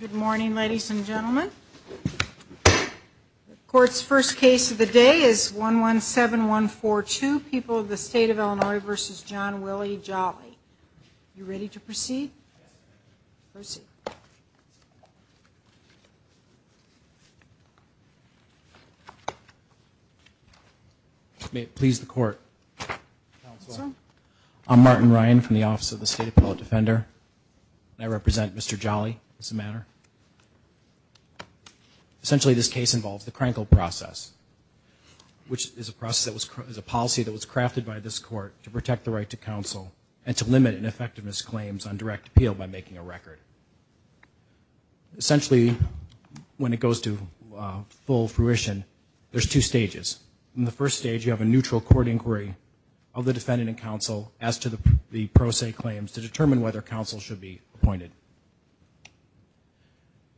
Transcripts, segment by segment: Good morning ladies and gentlemen. The court's first case of the day is 117142 People of the State of Illinois v. John Willie Jolly. You ready to proceed? May it please the court. I'm Martin Ryan from the Office of the State Appellate Defender. I represent Mr. Jolly as a matter. Essentially this case involves the Krenkel process which is a process that was a policy that was crafted by this court to protect the right to counsel and to limit an effectiveness claims on direct appeal by making a record. Essentially when it goes to full fruition there's two stages. In the first stage you have a neutral court inquiry of the defendant and counsel as to the pro se claims to determine whether counsel should be appointed.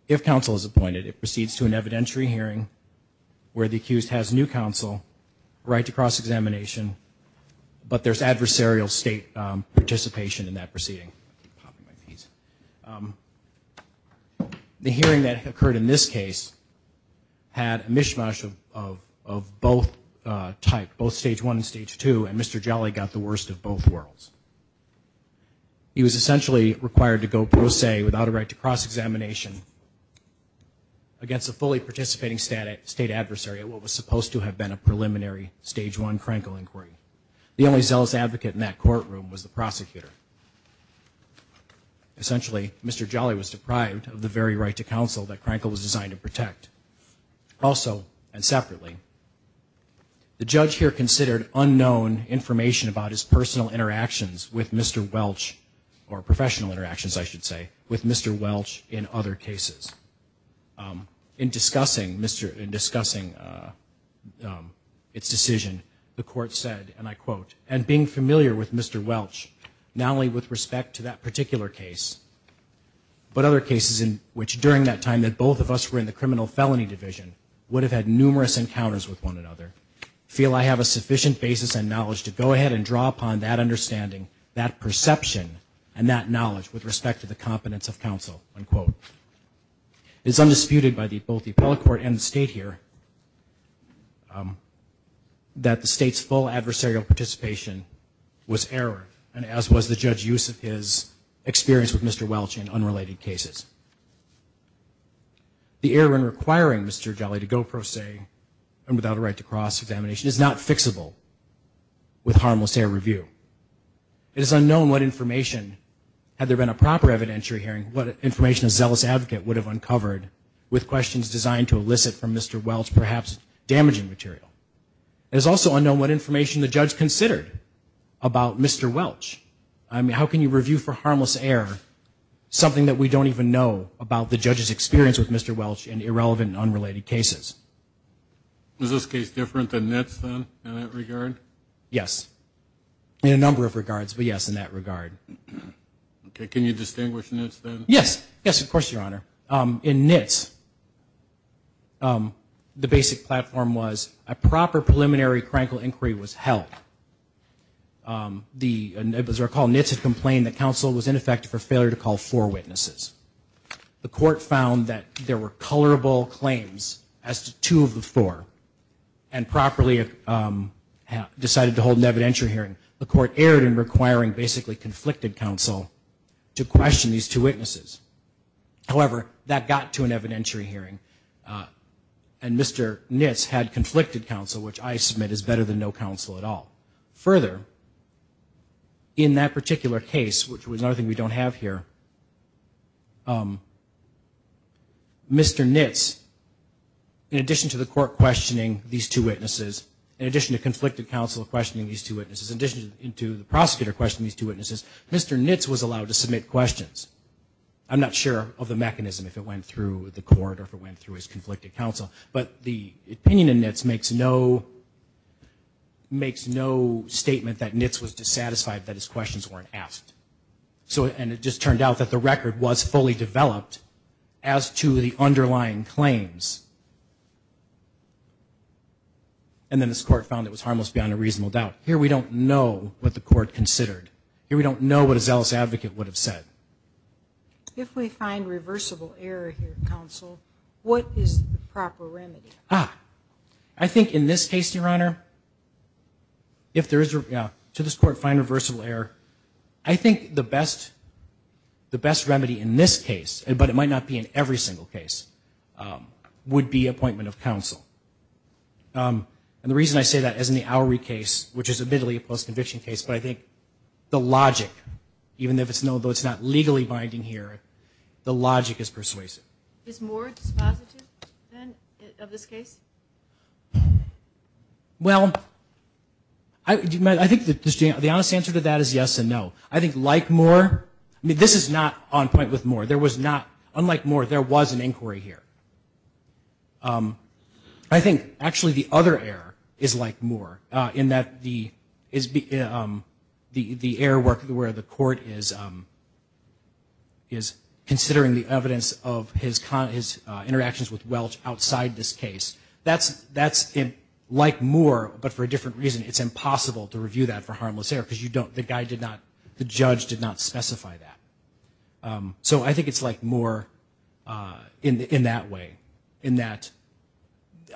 If counsel is appointed it proceeds to an evidentiary hearing where the accused has new counsel, right to cross examination, but there's adversarial state participation in that proceeding. The hearing that occurred in this case had a mishmash of both type, both stage two and Mr. Jolly got the worst of both worlds. He was essentially required to go pro se without a right to cross-examination against a fully participating state adversary at what was supposed to have been a preliminary stage one Krenkel inquiry. The only zealous advocate in that courtroom was the prosecutor. Essentially Mr. Jolly was deprived of the very right to counsel that Krenkel was designed to protect. Also and separately the judge here considered unknown information about his personal interactions with Mr. Welch or professional interactions I should say with Mr. Welch in other cases. In discussing Mr. in discussing its decision the court said and I quote and being familiar with Mr. Welch not only with respect to that particular case but other cases in which during that time that both of us were in the criminal felony division would have had numerous encounters with one another feel I have a sufficient basis and knowledge to go ahead and draw upon that understanding that perception and that knowledge with respect to the competence of counsel unquote. It's undisputed by the both the appellate court and state here that the state's full adversarial participation was error and as was the judge use of his experience with Mr. Welch in unrelated cases. The error in requiring Mr. Jolly to go pro se and without a right to cross-examination is not fixable with harmless error review. It is unknown what information had there been a proper evidentiary hearing what information a zealous advocate would have uncovered with questions designed to elicit from Mr. Welch perhaps damaging material. It is also unknown what information the judge considered about Mr. Welch. I mean how can you review for harmless error something that we don't even know about the judge's experience with Mr. Welch and irrelevant and Yes in a number of regards but yes in that regard. Okay can you distinguish this then? Yes yes of course your honor in NITS the basic platform was a proper preliminary critical inquiry was held. It was recalled NITS had complained that counsel was ineffective for failure to call four witnesses. The court found that there were colorable claims as to two of four and properly decided to hold an evidentiary hearing. The court erred in requiring basically conflicted counsel to question these two witnesses. However that got to an evidentiary hearing and Mr. NITS had conflicted counsel which I submit is better than no counsel at all. Further in that particular case which questioning these two witnesses in addition to conflicted counsel questioning these two witnesses in addition to the prosecutor questioning these two witnesses Mr. NITS was allowed to submit questions. I'm not sure of the mechanism if it went through the court or if it went through his conflicted counsel but the opinion in NITS makes no makes no statement that NITS was dissatisfied that his questions weren't asked. So and it just turned out that the and then this court found it was harmless beyond a reasonable doubt. Here we don't know what the court considered. Here we don't know what a zealous advocate would have said. If we find reversible error here counsel what is the proper remedy? I think in this case your honor if there is to this court find reversible error I think the best the best remedy in this case and but it be appointment of counsel. And the reason I say that as in the Oury case which is admittedly a post-conviction case but I think the logic even if it's no those not legally binding here the logic is persuasive. Well I think that the honest answer to that is yes and no. I think like Moore I mean this is not on inquiry here. I think actually the other error is like Moore in that the is be the the air work where the court is is considering the evidence of his interactions with Welch outside this case. That's that's in like Moore but for a different reason it's impossible to review that for harmless error because you don't the guy did not the judge did not specify that. So I think it's like Moore in that way in that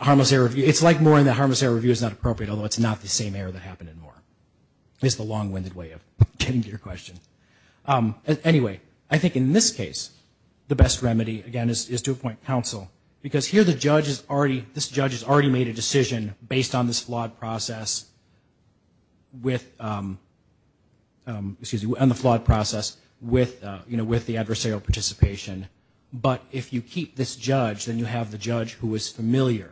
harmless error it's like more in the harmless error review is not appropriate although it's not the same error that happened in Moore. It's the long-winded way of getting to your question. Anyway I think in this case the best remedy again is to appoint counsel because here the judge is already this judge has already made a decision based on this flawed process with excuse me on the flawed process with you know with the adversarial participation but if you keep this judge then you have the judge who is familiar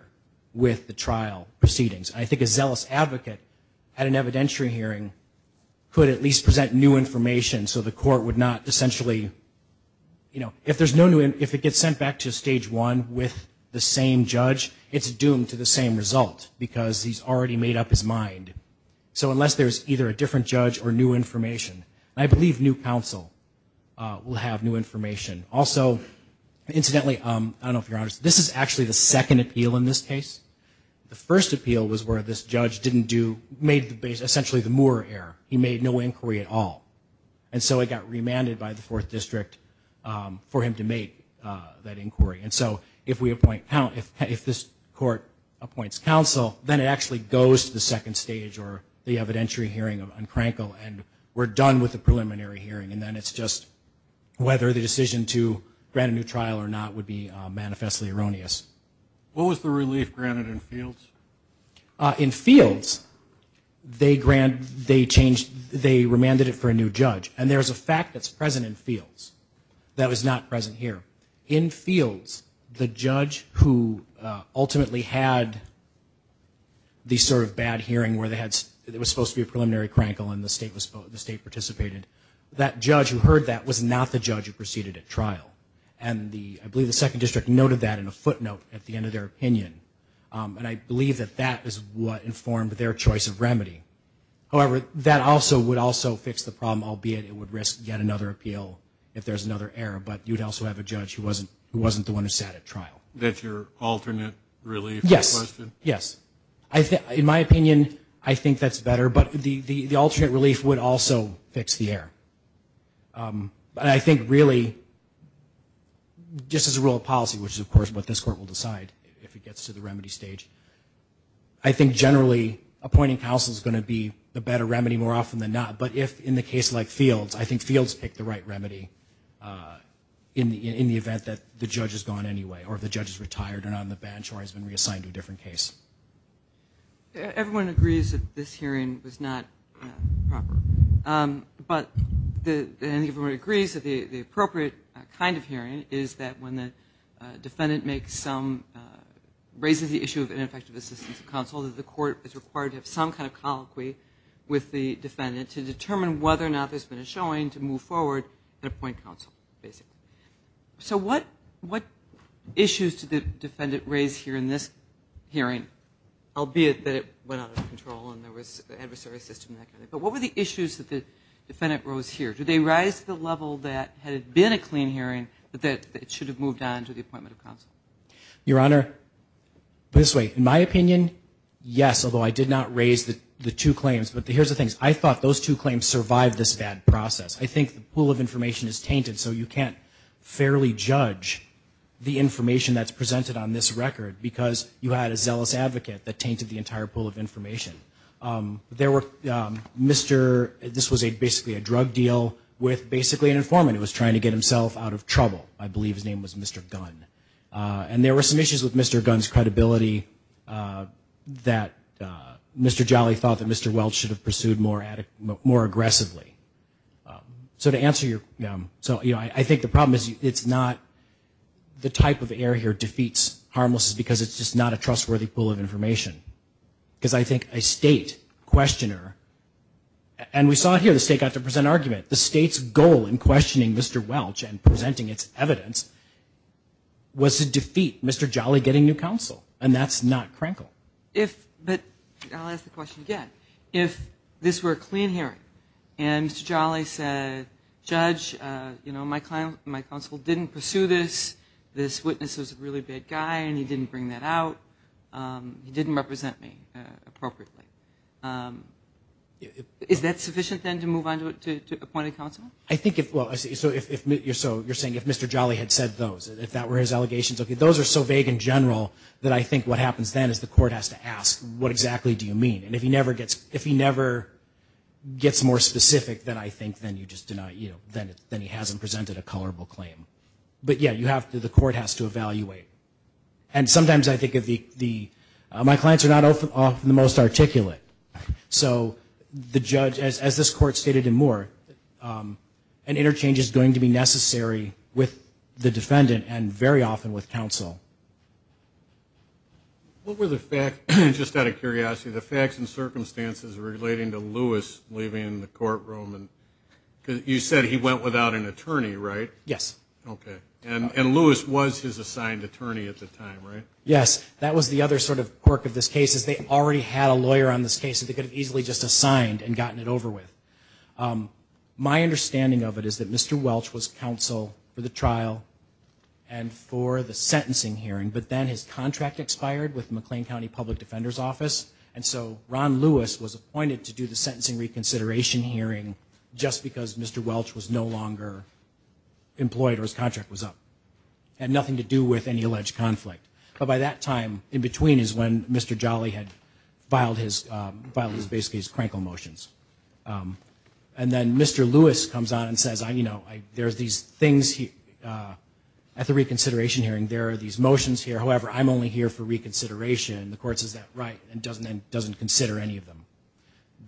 with the trial proceedings. I think a zealous advocate at an evidentiary hearing could at least present new information so the court would not essentially you know if there's no new if it gets sent back to stage one with the same judge it's doomed to the same result because he's already made up his mind. So unless there's either a different judge or new information I believe new counsel will have new information. Also incidentally I don't know if you're honest this is actually the second appeal in this case. The first appeal was where this judge didn't do made the base essentially the Moore error. He made no inquiry at all and so it got remanded by the fourth district for him to make that inquiry and so if we appoint count if this court appoints counsel then it actually goes to the second stage or the evidentiary hearing of Uncrankle and we're done with the preliminary hearing and then it's just whether the decision to grant a new trial or not would be manifestly erroneous. What was the relief granted in Fields? In Fields they grant they changed they remanded it for a new judge and there's a fact that's present in Fields that was not present here. In Fields the judge who ultimately had the sort of bad hearing where they had it was supposed to be a preliminary crankle and the state was the state participated that judge who heard that was not the judge who proceeded at trial and the I believe the second district noted that in a footnote at the end of their opinion and I believe that that is what informed their choice of remedy. However that also would also fix the problem albeit it would risk yet another appeal if there's another error but you'd also have a judge who wasn't who wasn't the one who sat at trial. That's your alternate relief? Yes yes I think in my opinion I think that's better but the the alternate relief would also fix the error but I think really just as a rule of policy which is of course what this court will decide if it gets to the remedy stage I think generally appointing counsel is going to be the better remedy more often than not but if in the case like Fields I think Fields picked the right remedy in the in the event that the judge has gone anyway or if the judge is retired or not on the bench or has been reassigned to a different case. Everyone agrees that this hearing was not proper but the everyone agrees that the appropriate kind of hearing is that when the defendant makes some raises the issue of ineffective assistance of counsel that the court is required to have some kind of colloquy with the defendant to determine whether or not there's been a showing to move forward and appoint counsel basically. So what issues did the defendant raise here in this hearing? Albeit that it went out of control and there was an adversary system but what were the issues that the defendant rose here? Did they rise to the level that had it been a clean hearing but that it should have moved on to the appointment of counsel? Your Honor this way in my opinion yes although I did not raise the the two claims but here's the things I thought those two claims survived this bad process. I think the information is tainted so you can't fairly judge the information that's presented on this record because you had a zealous advocate that tainted the entire pool of information. There were Mr. this was a basically a drug deal with basically an informant who was trying to get himself out of trouble I believe his name was Mr. Gunn and there were some issues with Mr. Gunn's credibility that Mr. Jolly thought that Mr. Welch should have pursued more aggressively. So to answer your so you know I think the problem is it's not the type of air here defeats harmless is because it's just not a trustworthy pool of information because I think a state questioner and we saw it here the state got to present argument the state's goal in questioning Mr. Welch and presenting its evidence was to defeat Mr. Jolly getting new counsel and that's not a clean hearing and Mr. Jolly said judge you know my client my counsel didn't pursue this this witness was a really bad guy and he didn't bring that out he didn't represent me appropriately. Is that sufficient then to move on to appointed counsel? I think if well I see so if you're so you're saying if Mr. Jolly had said those if that were his allegations okay those are so vague in general that I think what happens then is the court has to ask what exactly do you mean and if he never gets if he never gets more specific than I think then you just deny you then then he hasn't presented a colorable claim but yeah you have to the court has to evaluate and sometimes I think of the the my clients are not often the most articulate so the judge as this court stated and more an interchange is going to be necessary with the defendant and very often with counsel. What were the fact just out of curiosity the facts and circumstances relating to Lewis leaving in the courtroom and you said he went without an attorney right? Yes. Okay and and Lewis was his assigned attorney at the time right? Yes that was the other sort of quirk of this case is they already had a lawyer on this case that they could have easily just assigned and gotten it over with. My understanding of it is that Mr. Welch was counsel for the sentencing hearing but then his contract expired with McLean County Public Defender's Office and so Ron Lewis was appointed to do the sentencing reconsideration hearing just because Mr. Welch was no longer employed or his contract was up and nothing to do with any alleged conflict but by that time in between is when Mr. Jolly had filed his filed his base case crankle motions and then Mr. Lewis comes on and says I you know there's these things he at the reconsideration hearing there are these motions here however I'm only here for reconsideration the courts is that right and doesn't and doesn't consider any of them.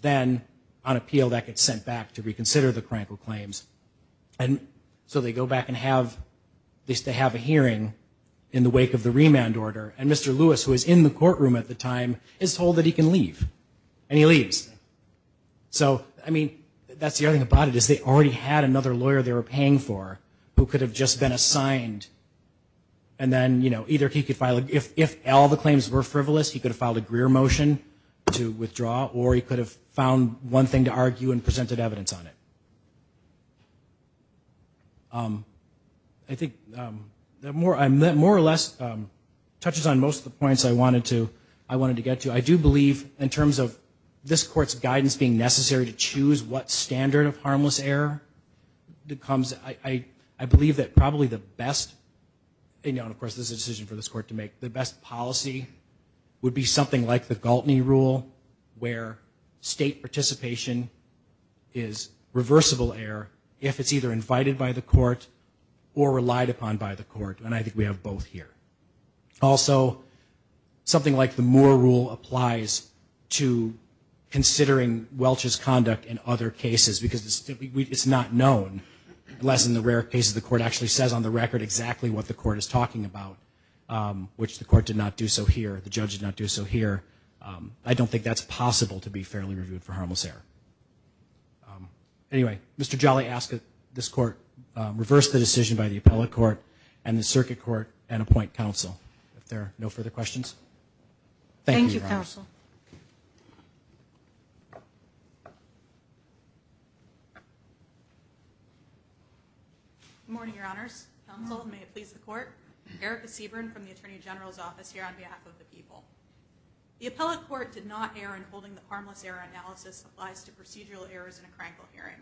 Then on appeal that gets sent back to reconsider the crankle claims and so they go back and have this to have a hearing in the wake of the remand order and Mr. Lewis who is in the courtroom at the time is told that he can leave and he leaves. So I mean that's the other thing about it is they already had another lawyer they were paying for who could have just been assigned and then you know either he could file if if all the claims were frivolous he could have filed a Greer motion to withdraw or he could have found one thing to argue and presented evidence on it. I think that more I meant more or less touches on most of the points I wanted to I wanted to get to I do believe in terms of this standard of harmless error that comes I I believe that probably the best and of course this is a decision for this court to make the best policy would be something like the Galtney rule where state participation is reversible error if it's either invited by the court or relied upon by the court and I think we have both here. Also something like the Moore rule applies to considering Welch's conduct in other cases because it's not known unless in the rare cases the court actually says on the record exactly what the court is talking about which the court did not do so here the judge did not do so here I don't think that's possible to be fairly reviewed for harmless error. Anyway Mr. Jolly asked this court reverse the decision by the appellate court and the circuit court and appoint counsel if there are no further questions. Thank you counsel. Good morning your honors counsel and may it please the court. Erica Seaborn from the Attorney General's office here on behalf of the people. The appellate court did not err in holding the harmless error analysis applies to procedural errors in a crankle hearing.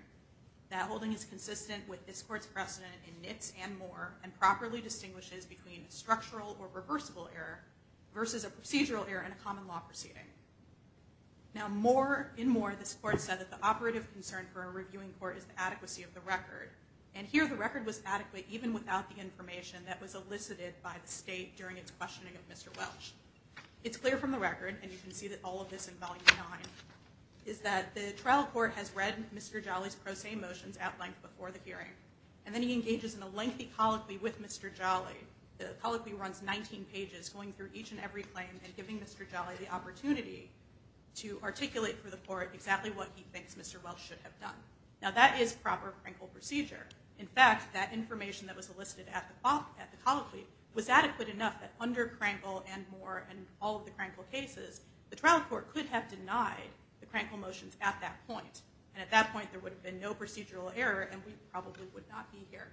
That holding is consistent with this court's precedent in NITS and Moore and properly distinguishes between structural or reversible error versus a procedural error in a common law proceeding. Now Moore in Moore this court said that the operative concern for a reviewing court is the adequacy of the record and here the record was adequate even without the information that was elicited by the state during its questioning of Mr. Welch. It's clear from the record and you can see that all of this in volume 9 is that the trial court has read Mr. Jolly's pro se motions at length before the hearing and then he engages in a lengthy colloquy with Mr. Jolly. The colloquy runs 19 pages going through each and every claim and giving Mr. Jolly the opportunity to articulate for the court exactly what he thinks Mr. Welch should have done. Now that is proper crankle procedure. In fact that information that was elicited at the colloquy was adequate enough that under crankle and Moore and all of the crankle cases the trial court could have denied the crankle motions at that point and at that point there would have been no procedural error and we probably would not be here.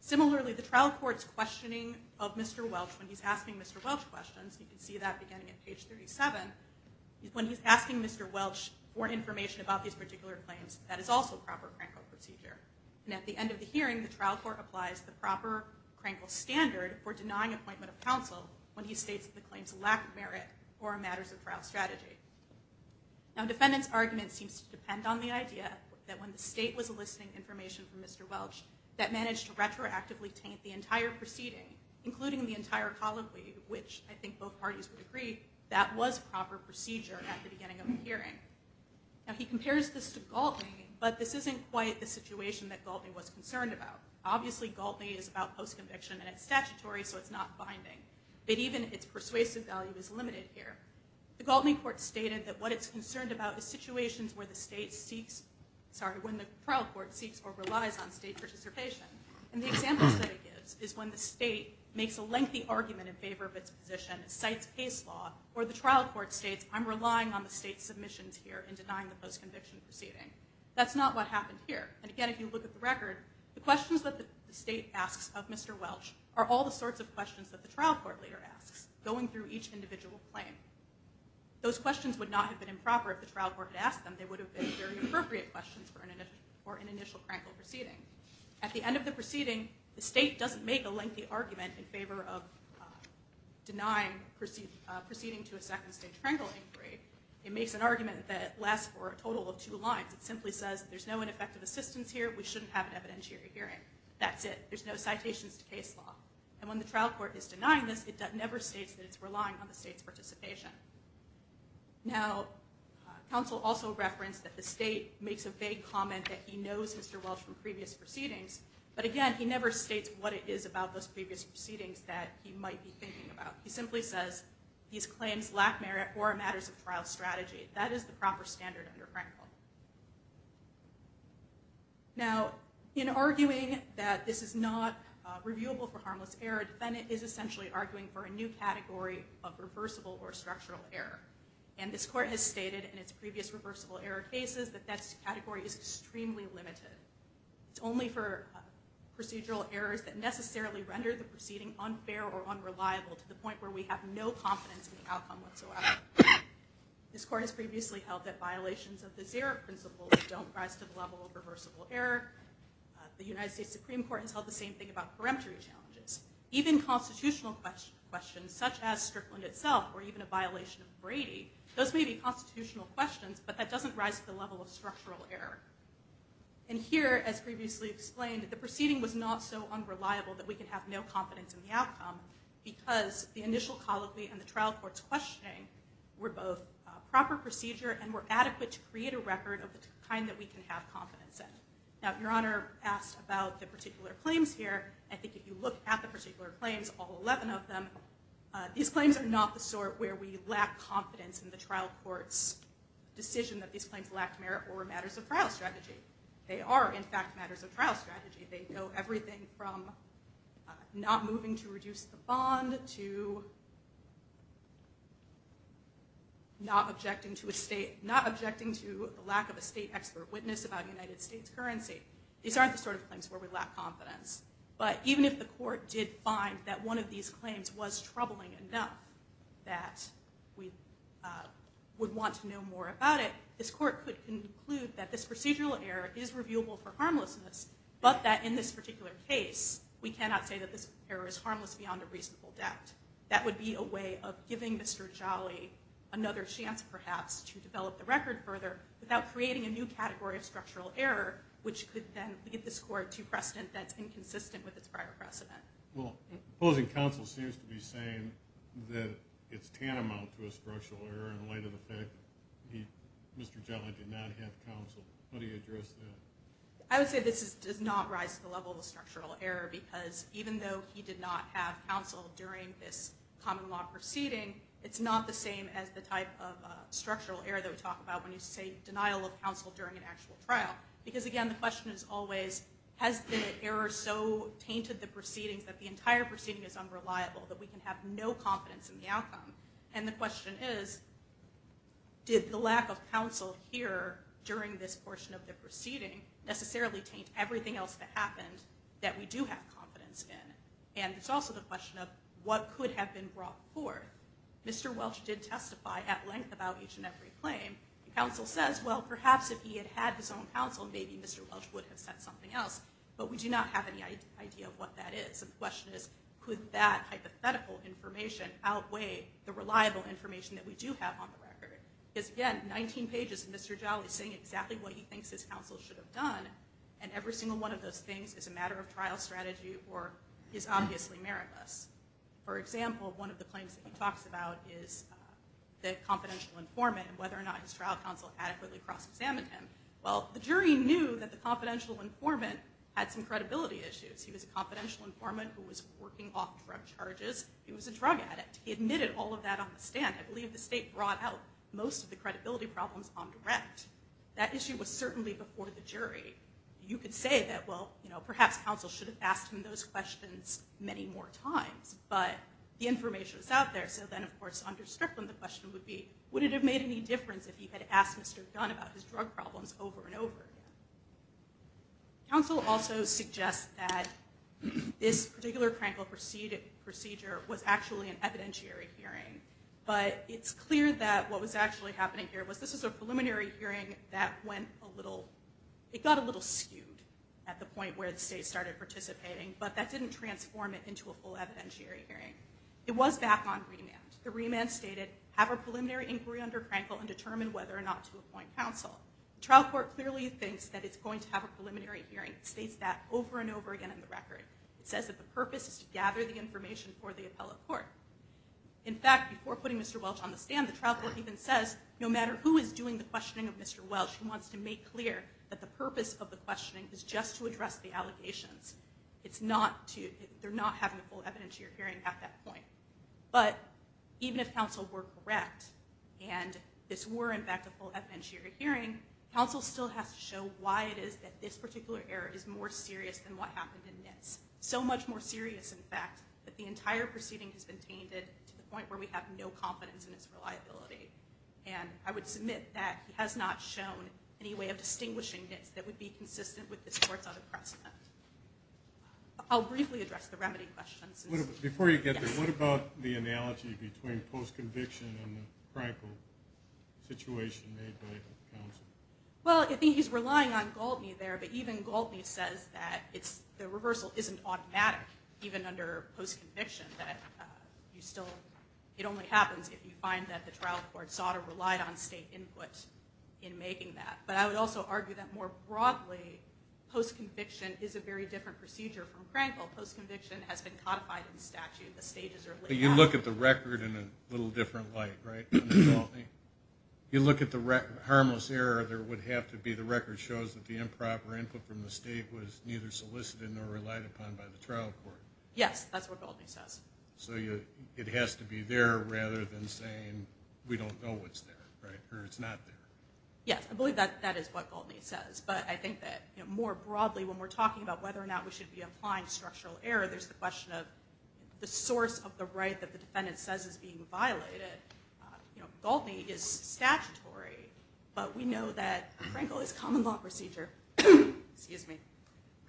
Similarly the trial court's questioning of Mr. Welch when he's asking Mr. Welch questions you can see that beginning at page 37 when he's asking Mr. Welch for information about these particular claims that is also proper crankle procedure and at the end of the hearing the trial court applies the proper crankle standard for denying appointment of counsel when he states the claims lack merit or matters of trial strategy. Now defendants argument seems to depend on the idea that when the state was eliciting information from Mr. Welch that managed to retroactively taint the entire proceeding including the entire colloquy which I think both parties would agree that was proper procedure at the beginning of the hearing. Now he compares this to Galtney but this isn't quite the situation that Galtney was concerned about. Obviously Galtney is about post-conviction and it's statutory so it's not binding but even its persuasive value is limited here. The Galtney court stated that what it's concerned about is situations where the trial court seeks or relies on state participation and the examples that it gives is when the state makes a lengthy argument in favor of its position, cites case law, or the trial court states I'm relying on the state's submissions here in denying the post-conviction proceeding. That's not what happened here. And again if you look at the record, the questions that the state asks of Mr. Welch are all the sorts of questions that the trial court leader asks going through each individual claim. Those questions would not have been improper if the trial court had asked them, they would have been. appropriate questions for an initial Krenkel proceeding. At the end of the proceeding the state doesn't make a lengthy argument in favor of denying proceeding to a second-stage Krenkel inquiry. It makes an argument that lasts for a total of two lines. It simply says there's no ineffective assistance here, we shouldn't have an evidentiary hearing. That's it. There's no citations to case law. And when the trial court is denying this it never states that it's the state makes a vague comment that he knows Mr. Welch from previous proceedings, but again he never states what it is about those previous proceedings that he might be thinking about. He simply says these claims lack merit or are matters of trial strategy. That is the proper standard under Krenkel. Now in arguing that this is not reviewable for harmless error, the defendant is essentially arguing for a new category of reversible or structural error. And this court has stated in its previous reversible error cases that that category is extremely limited. It's only for procedural errors that necessarily render the proceeding unfair or unreliable to the point where we have no confidence in the outcome whatsoever. This court has previously held that violations of the zero principle don't rise to the level of reversible error. The United States Supreme Court has held the same thing about peremptory challenges. Even constitutional questions such as Strickland itself or even a violation of constitutional questions, but that doesn't rise to the level of structural error. And here, as previously explained, the proceeding was not so unreliable that we can have no confidence in the outcome because the initial colloquy and the trial court's questioning were both proper procedure and were adequate to create a record of the kind that we can have confidence in. Now Your Honor asked about the particular claims here. I think if you look at the particular claims, all 11 of them, these claims are not the sort where we lack confidence in the trial court's decision that these claims lack merit or matters of trial strategy. They are, in fact, matters of trial strategy. They go everything from not moving to reduce the bond to not objecting to a state, not objecting to the lack of a state expert witness about United States currency. These aren't the sort of things where we lack confidence. But even if the court did find that one of these claims was without it, this court could conclude that this procedural error is reviewable for harmlessness, but that in this particular case, we cannot say that this error is harmless beyond a reasonable doubt. That would be a way of giving Mr. Jolly another chance, perhaps, to develop the record further without creating a new category of structural error, which could then lead this court to precedent that's inconsistent with its prior precedent. Well, opposing counsel seems to be saying that it's tantamount to a structural error in light of the fact that Mr. Jolly did not have counsel. How do you address that? I would say this does not rise to the level of structural error, because even though he did not have counsel during this common law proceeding, it's not the same as the type of structural error that we talk about when you say denial of counsel during an actual trial. Because again, the question is always, has the error so tainted the proceedings that the entire proceeding is unreliable, that we can have no confidence in the outcome? And the question is, did the lack of counsel here during this portion of the proceeding necessarily taint everything else that happened that we do have confidence in? And it's also the question of what could have been brought forth? Mr. Welch did testify at length about each and every claim. Counsel says, well, perhaps if he had had his own counsel, maybe Mr. Welch would have said something else, but we do not have any idea of what that is. The hypothetical information outweigh the reliable information that we do have on the record. Because again, 19 pages of Mr. Jolly saying exactly what he thinks his counsel should have done, and every single one of those things is a matter of trial strategy or is obviously meritless. For example, one of the claims that he talks about is the confidential informant and whether or not his trial counsel adequately cross-examined him. Well, the jury knew that the confidential informant had some credibility issues. He was a confidential informant who was working off drug charges. He was a drug addict. He admitted all of that on the stand. I believe the state brought out most of the credibility problems on direct. That issue was certainly before the jury. You could say that, well, you know, perhaps counsel should have asked him those questions many more times, but the information is out there. So then, of course, under Strickland, the question would be, would it have made any difference if he had asked Mr. Gunn about his drug problems over and over? Counsel also suggests that this particular Krankel procedure was actually an evidentiary hearing, but it's clear that what was actually happening here was this is a preliminary hearing that went a little, it got a little skewed at the point where the state started participating, but that didn't transform it into a full evidentiary hearing. It was back on remand. The remand stated, have a preliminary inquiry under Krankel and determine whether or not to appoint counsel. The trial court clearly thinks that it's going to have a preliminary hearing. It states that over and gather the information for the appellate court. In fact, before putting Mr. Welch on the stand, the trial court even says, no matter who is doing the questioning of Mr. Welch, he wants to make clear that the purpose of the questioning is just to address the allegations. It's not to, they're not having a full evidentiary hearing at that point, but even if counsel were correct and this were, in fact, a full evidentiary hearing, counsel still has to show why it is that this particular error is more serious than what happened in this. So much more serious, in fact, that the entire proceeding has been tainted to the point where we have no confidence in its reliability. And I would submit that he has not shown any way of distinguishing this that would be consistent with this court's other precedent. I'll briefly address the remedy questions. Before you get there, what about the analogy between post-conviction and the Krankel situation made by counsel? Well, I think he's relying on Galtney there, but even Galtney says that it's, the reversal isn't automatic, even under post-conviction, that you still, it only happens if you find that the trial court sought or relied on state input in making that. But I would also argue that more broadly, post-conviction is a very different procedure from Krankel. Post-conviction has been codified in statute. The stages are laid out. But you look at the record in a little different light, right? You look at the record, harmless error, there would have to be the record shows that the improper input from the state was neither solicited nor relied upon by the trial court. Yes, that's what Galtney says. So you, it has to be there rather than saying, we don't know what's there, right? Or it's not there. Yes, I believe that that is what Galtney says. But I think that more broadly, when we're talking about whether or not we should be applying structural error, there's the question of the source of the right that the defendant says is being violated. You know, Galtney is statutory, but we know that Krankel is common law procedure. Excuse me.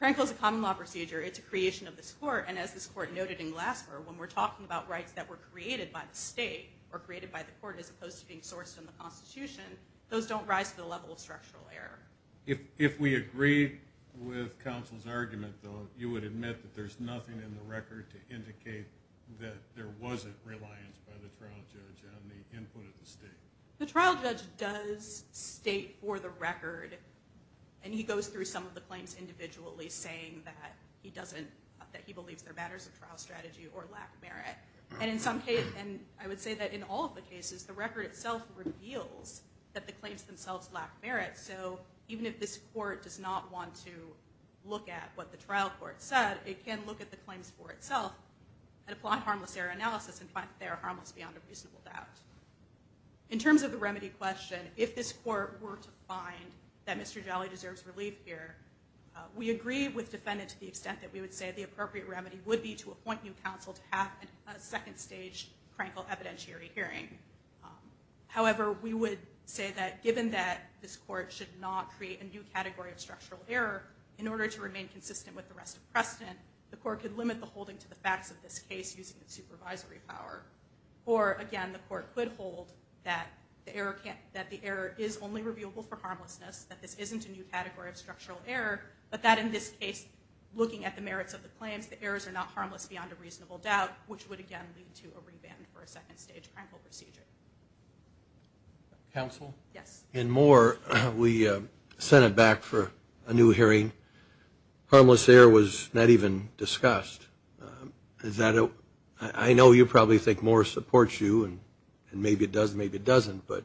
Krankel is a common law procedure. It's a creation of this court. And as this court noted in Glassberg, when we're talking about rights that were created by the state or created by the court as opposed to being sourced in the Constitution, those don't rise to the level of structural error. If we agree with counsel's argument, though, you would admit that there's nothing in the record to indicate that there wasn't reliance by the trial judge on the input of the state. The trial judge does state for the record, and he goes through some of the claims individually saying that he doesn't, that he believes they're matters of trial strategy or lack merit. And in some cases, and I would say that in all of the cases, the record itself reveals that the claims themselves lack merit. So even if this court does not want to look at what the trial court said, it can look at the claims for itself and apply harmless error analysis and find that they're harmless beyond a reasonable doubt. In terms of the remedy question, if this court were to find that Mr. Jolly deserves relief here, we agree with defendant to the extent that we would say the appropriate remedy would be to appoint new counsel to have a second-stage crankle evidentiary hearing. However, we would say that given that this court should not create a new category of structural error, in order to remain consistent with the rest of precedent, the court could limit the holding to the facts of this case using its supervisory power. Or again, the court could hold that the error can't, that the error is only reviewable for harmlessness, that this isn't a new category of structural error, but that in this case, looking at the merits of the claims, the errors are not harmless beyond a reasonable doubt, which would again lead to a reband for a second-stage crankle procedure. Counsel? Yes. In Moore, we sent it back for a new hearing. Harmless error was not even discussed. I know you probably think Moore supports you, and maybe it does, maybe it doesn't, but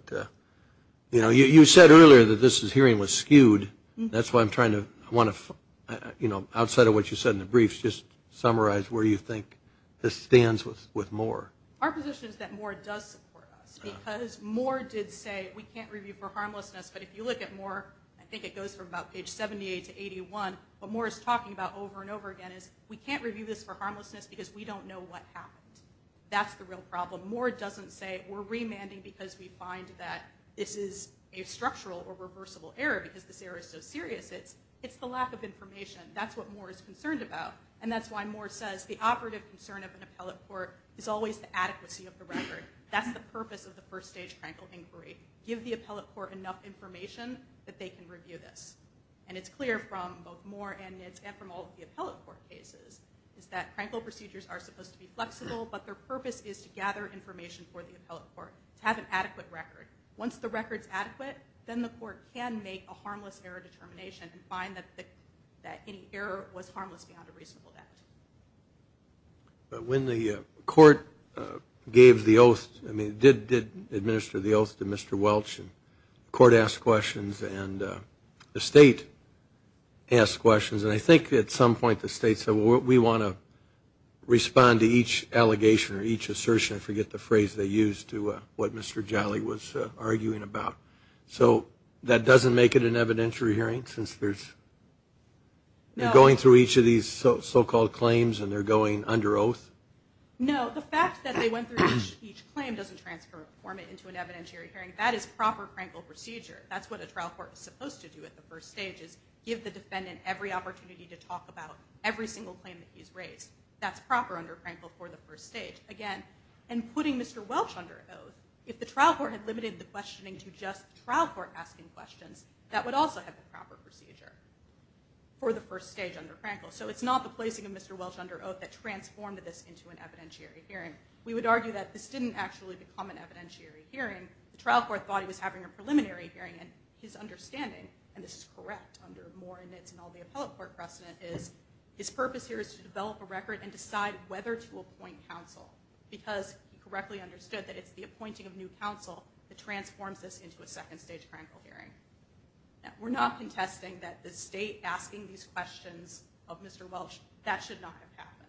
you know, you said earlier that this hearing was skewed. That's why I'm trying to, I want to, you know, outside of what you said in the briefs, just summarize where you think this stands with Moore. Our position is that Moore does support us, because Moore did say we can't review for harmlessness, but if you look at Moore, I think it goes from about page 78 to 81, what Moore is talking about over and over again is we can't review this for harmlessness, because we don't know what happened. That's the real problem. Moore doesn't say we're remanding because we find that this is a structural or reversible error, because this error is so serious. It's the lack of information. That's what Moore is concerned about, and that's why Moore says the operative concern of an appellate court is always the adequacy of the record. That's the purpose of the first-stage crankle inquiry. Give the appellate court enough information that they can review this, and it's clear from both Moore and from all the appellate court cases, is that crankle procedures are supposed to be flexible, but their purpose is to gather information for the appellate court to have an adequate record. Once the record is adequate, then the court can make a harmless error determination and find that any error was harmless beyond a reasonable doubt. But when the court gave the oath, I mean, did administer the oath to Mr. Welch, and court asked questions, and the think at some point the state said, well, we want to respond to each allegation or each assertion, I forget the phrase they used, to what Mr. Jolly was arguing about. So that doesn't make it an evidentiary hearing, since they're going through each of these so-called claims, and they're going under oath? No, the fact that they went through each claim doesn't transform it into an evidentiary hearing. That is proper crankle procedure. That's what a trial court is supposed to do at the first stage, is give the defendant every opportunity to talk about every single claim that he's raised. That's proper under crankle for the first stage. Again, and putting Mr. Welch under oath, if the trial court had limited the questioning to just trial court asking questions, that would also have the proper procedure for the first stage under crankle. So it's not the placing of Mr. Welch under oath that transformed this into an evidentiary hearing. We would argue that this didn't actually become an evidentiary hearing. The trial court thought he was having a preliminary hearing, and his understanding, and this is correct under Moore and Nitz and all the appellate court precedent, is his purpose here is to develop a record and decide whether to appoint counsel, because he correctly understood that it's the appointing of new counsel that transforms this into a second stage crankle hearing. We're not contesting that the state asking these questions of Mr. Welch, that should not have happened.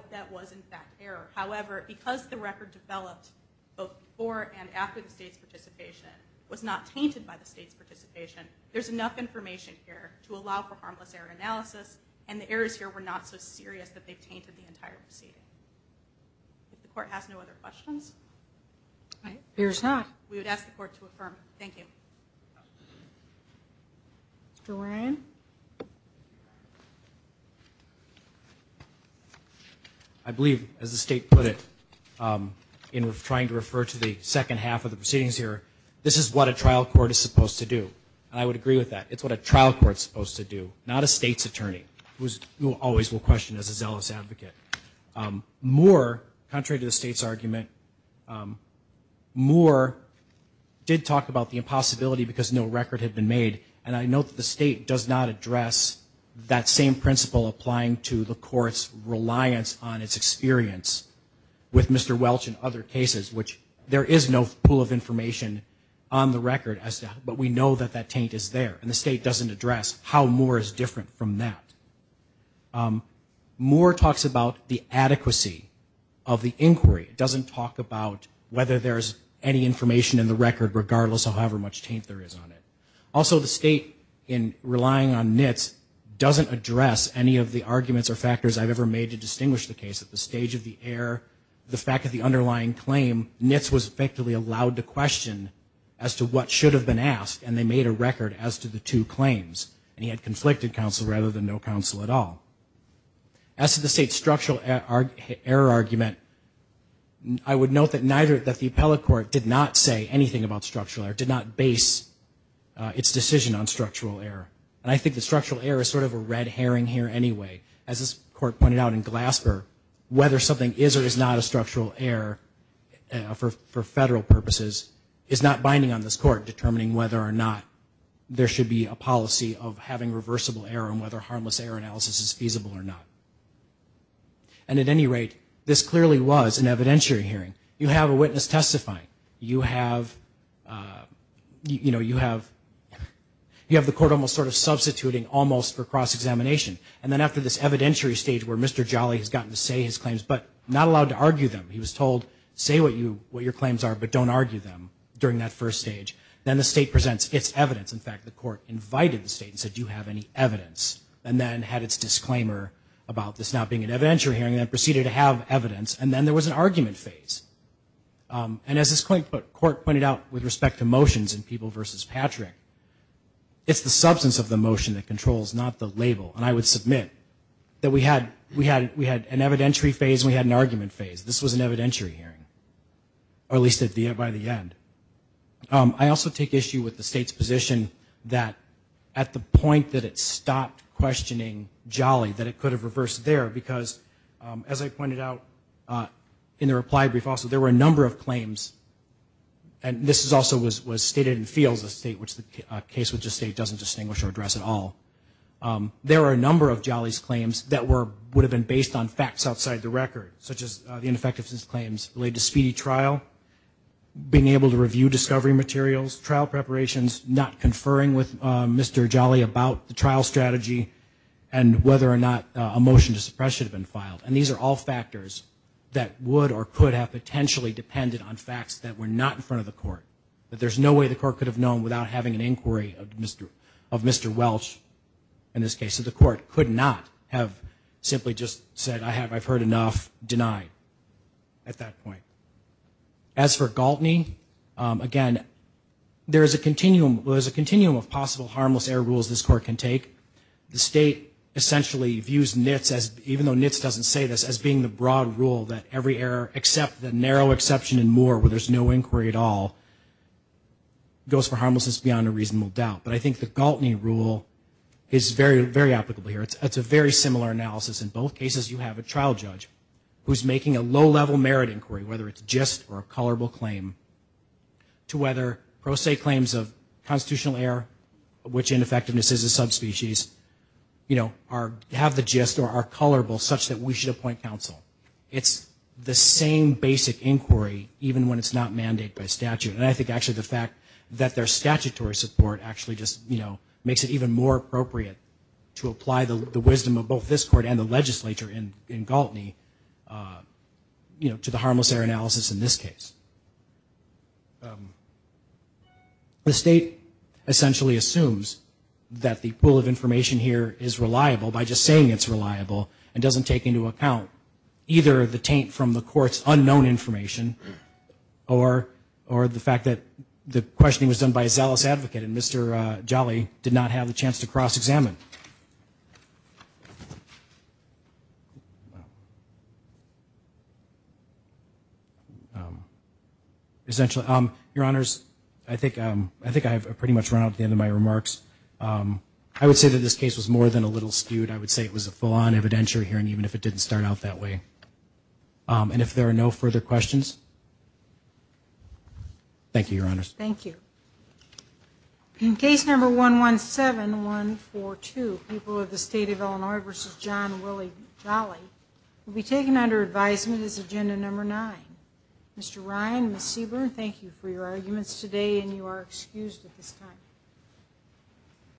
That was in fact error. However, because the record developed both before and after the state's participation, was not tainted by the state's participation, there's enough information here to allow for harmless error analysis, and the errors here were not so serious that they've tainted the entire proceeding. If the court has no other questions, we would ask the court to affirm. Thank you. I believe, as the state put it, in trying to refer to the second half of the proceedings here, this is what a trial court is supposed to do, and I would agree with that. It's what a trial court's supposed to do, not a state's attorney, who always will question as a zealous advocate. Moore, contrary to the possibility, because no record had been made, and I know that the state does not address that same principle applying to the court's reliance on its experience with Mr. Welch and other cases, which there is no pool of information on the record, but we know that that taint is there, and the state doesn't address how Moore is different from that. Moore talks about the adequacy of the inquiry. It doesn't talk about whether there's any information in the record, regardless of however much taint there is on it. Also, the state, in relying on Nitz, doesn't address any of the arguments or factors I've ever made to distinguish the case at the stage of the error, the fact of the underlying claim. Nitz was effectively allowed to question as to what should have been asked, and they made a record as to the two claims, and he had conflicted counsel rather than no counsel at all. As to the state's structural error argument, I would note that neither, that the appellate court did not say anything about structural error, did not base its decision on structural error, and I think the structural error is sort of a red herring here anyway. As this court pointed out in Glasper, whether something is or is not a structural error for federal purposes is not binding on this court determining whether or not there should be a policy of having reversible error and whether harmless error analysis is feasible or not. And at any rate, this clearly was an evidentiary hearing. You have a witness testifying. You have, you know, you have, you have the court almost sort of substituting almost for cross-examination, and then after this evidentiary stage where Mr. Jolly has gotten to say his claims but not allowed to argue them, he was told, say what you, what your claims are, but don't argue them during that first stage, then the state presents its evidence. In fact, the court invited the state and said, do you have any evidence, and then had its disclaimer about this not being an evidentiary hearing that proceeded to have evidence, and then there was an argument phase. And as this court pointed out with respect to motions in People v. Patrick, it's the substance of the motion that controls, not the label. And I would submit that we had, we had, we had an evidentiary phase, we had an argument phase. This was an evidentiary hearing, or at least at the end, by the end. I also take issue with the state's position that at the point that it stopped questioning Jolly, that it could have reversed there. Because, as I pointed out in the reply brief also, there were a number of claims, and this is also was stated in fields of state, which the case would just say doesn't distinguish or address at all. There are a number of Jolly's claims that were, would have been based on facts outside the record, such as the ineffectiveness claims related to speedy trial, being able to review discovery materials, trial preparations, not conferring with Mr. Jolly about the motion to suppress should have been filed. And these are all factors that would or could have potentially depended on facts that were not in front of the court. That there's no way the court could have known without having an inquiry of Mr., of Mr. Welch, in this case. So the court could not have simply just said, I have, I've heard enough, denied at that point. As for Galtney, again, there is a continuum, there's a continuum of possible harmless error rules this court can take. The state essentially views NITS as, even though NITS doesn't say this, as being the broad rule that every error, except the narrow exception in Moore, where there's no inquiry at all, goes for harmlessness beyond a reasonable doubt. But I think the Galtney rule is very, very applicable here. It's a very similar analysis. In both cases, you have a trial judge who's making a low-level merit inquiry, whether it's just or a colorable claim, to whether pro se claims of subspecies, you know, have the gist or are colorable such that we should appoint counsel. It's the same basic inquiry, even when it's not mandated by statute. And I think actually the fact that there's statutory support actually just, you know, makes it even more appropriate to apply the wisdom of both this court and the legislature in Galtney, you know, to the harmless error pool of information here is reliable by just saying it's reliable and doesn't take into account either the taint from the court's unknown information or the fact that the questioning was done by a zealous advocate and Mr. Jolly did not have the chance to cross-examine. Essentially, your honors, I think I have pretty much run out at the end of my remarks. I would say that this case was more than a little skewed. I would say it was a full-on evidentiary hearing, even if it didn't start out that way. And if there are no further questions, thank you, your honors. Thank you. In case number 117142, people of the state of Illinois versus John Willie Jolly will be taken under advisement as agenda number nine. Mr. Ryan, Ms. Seaborn, thank you for your arguments today and you are excused at this time.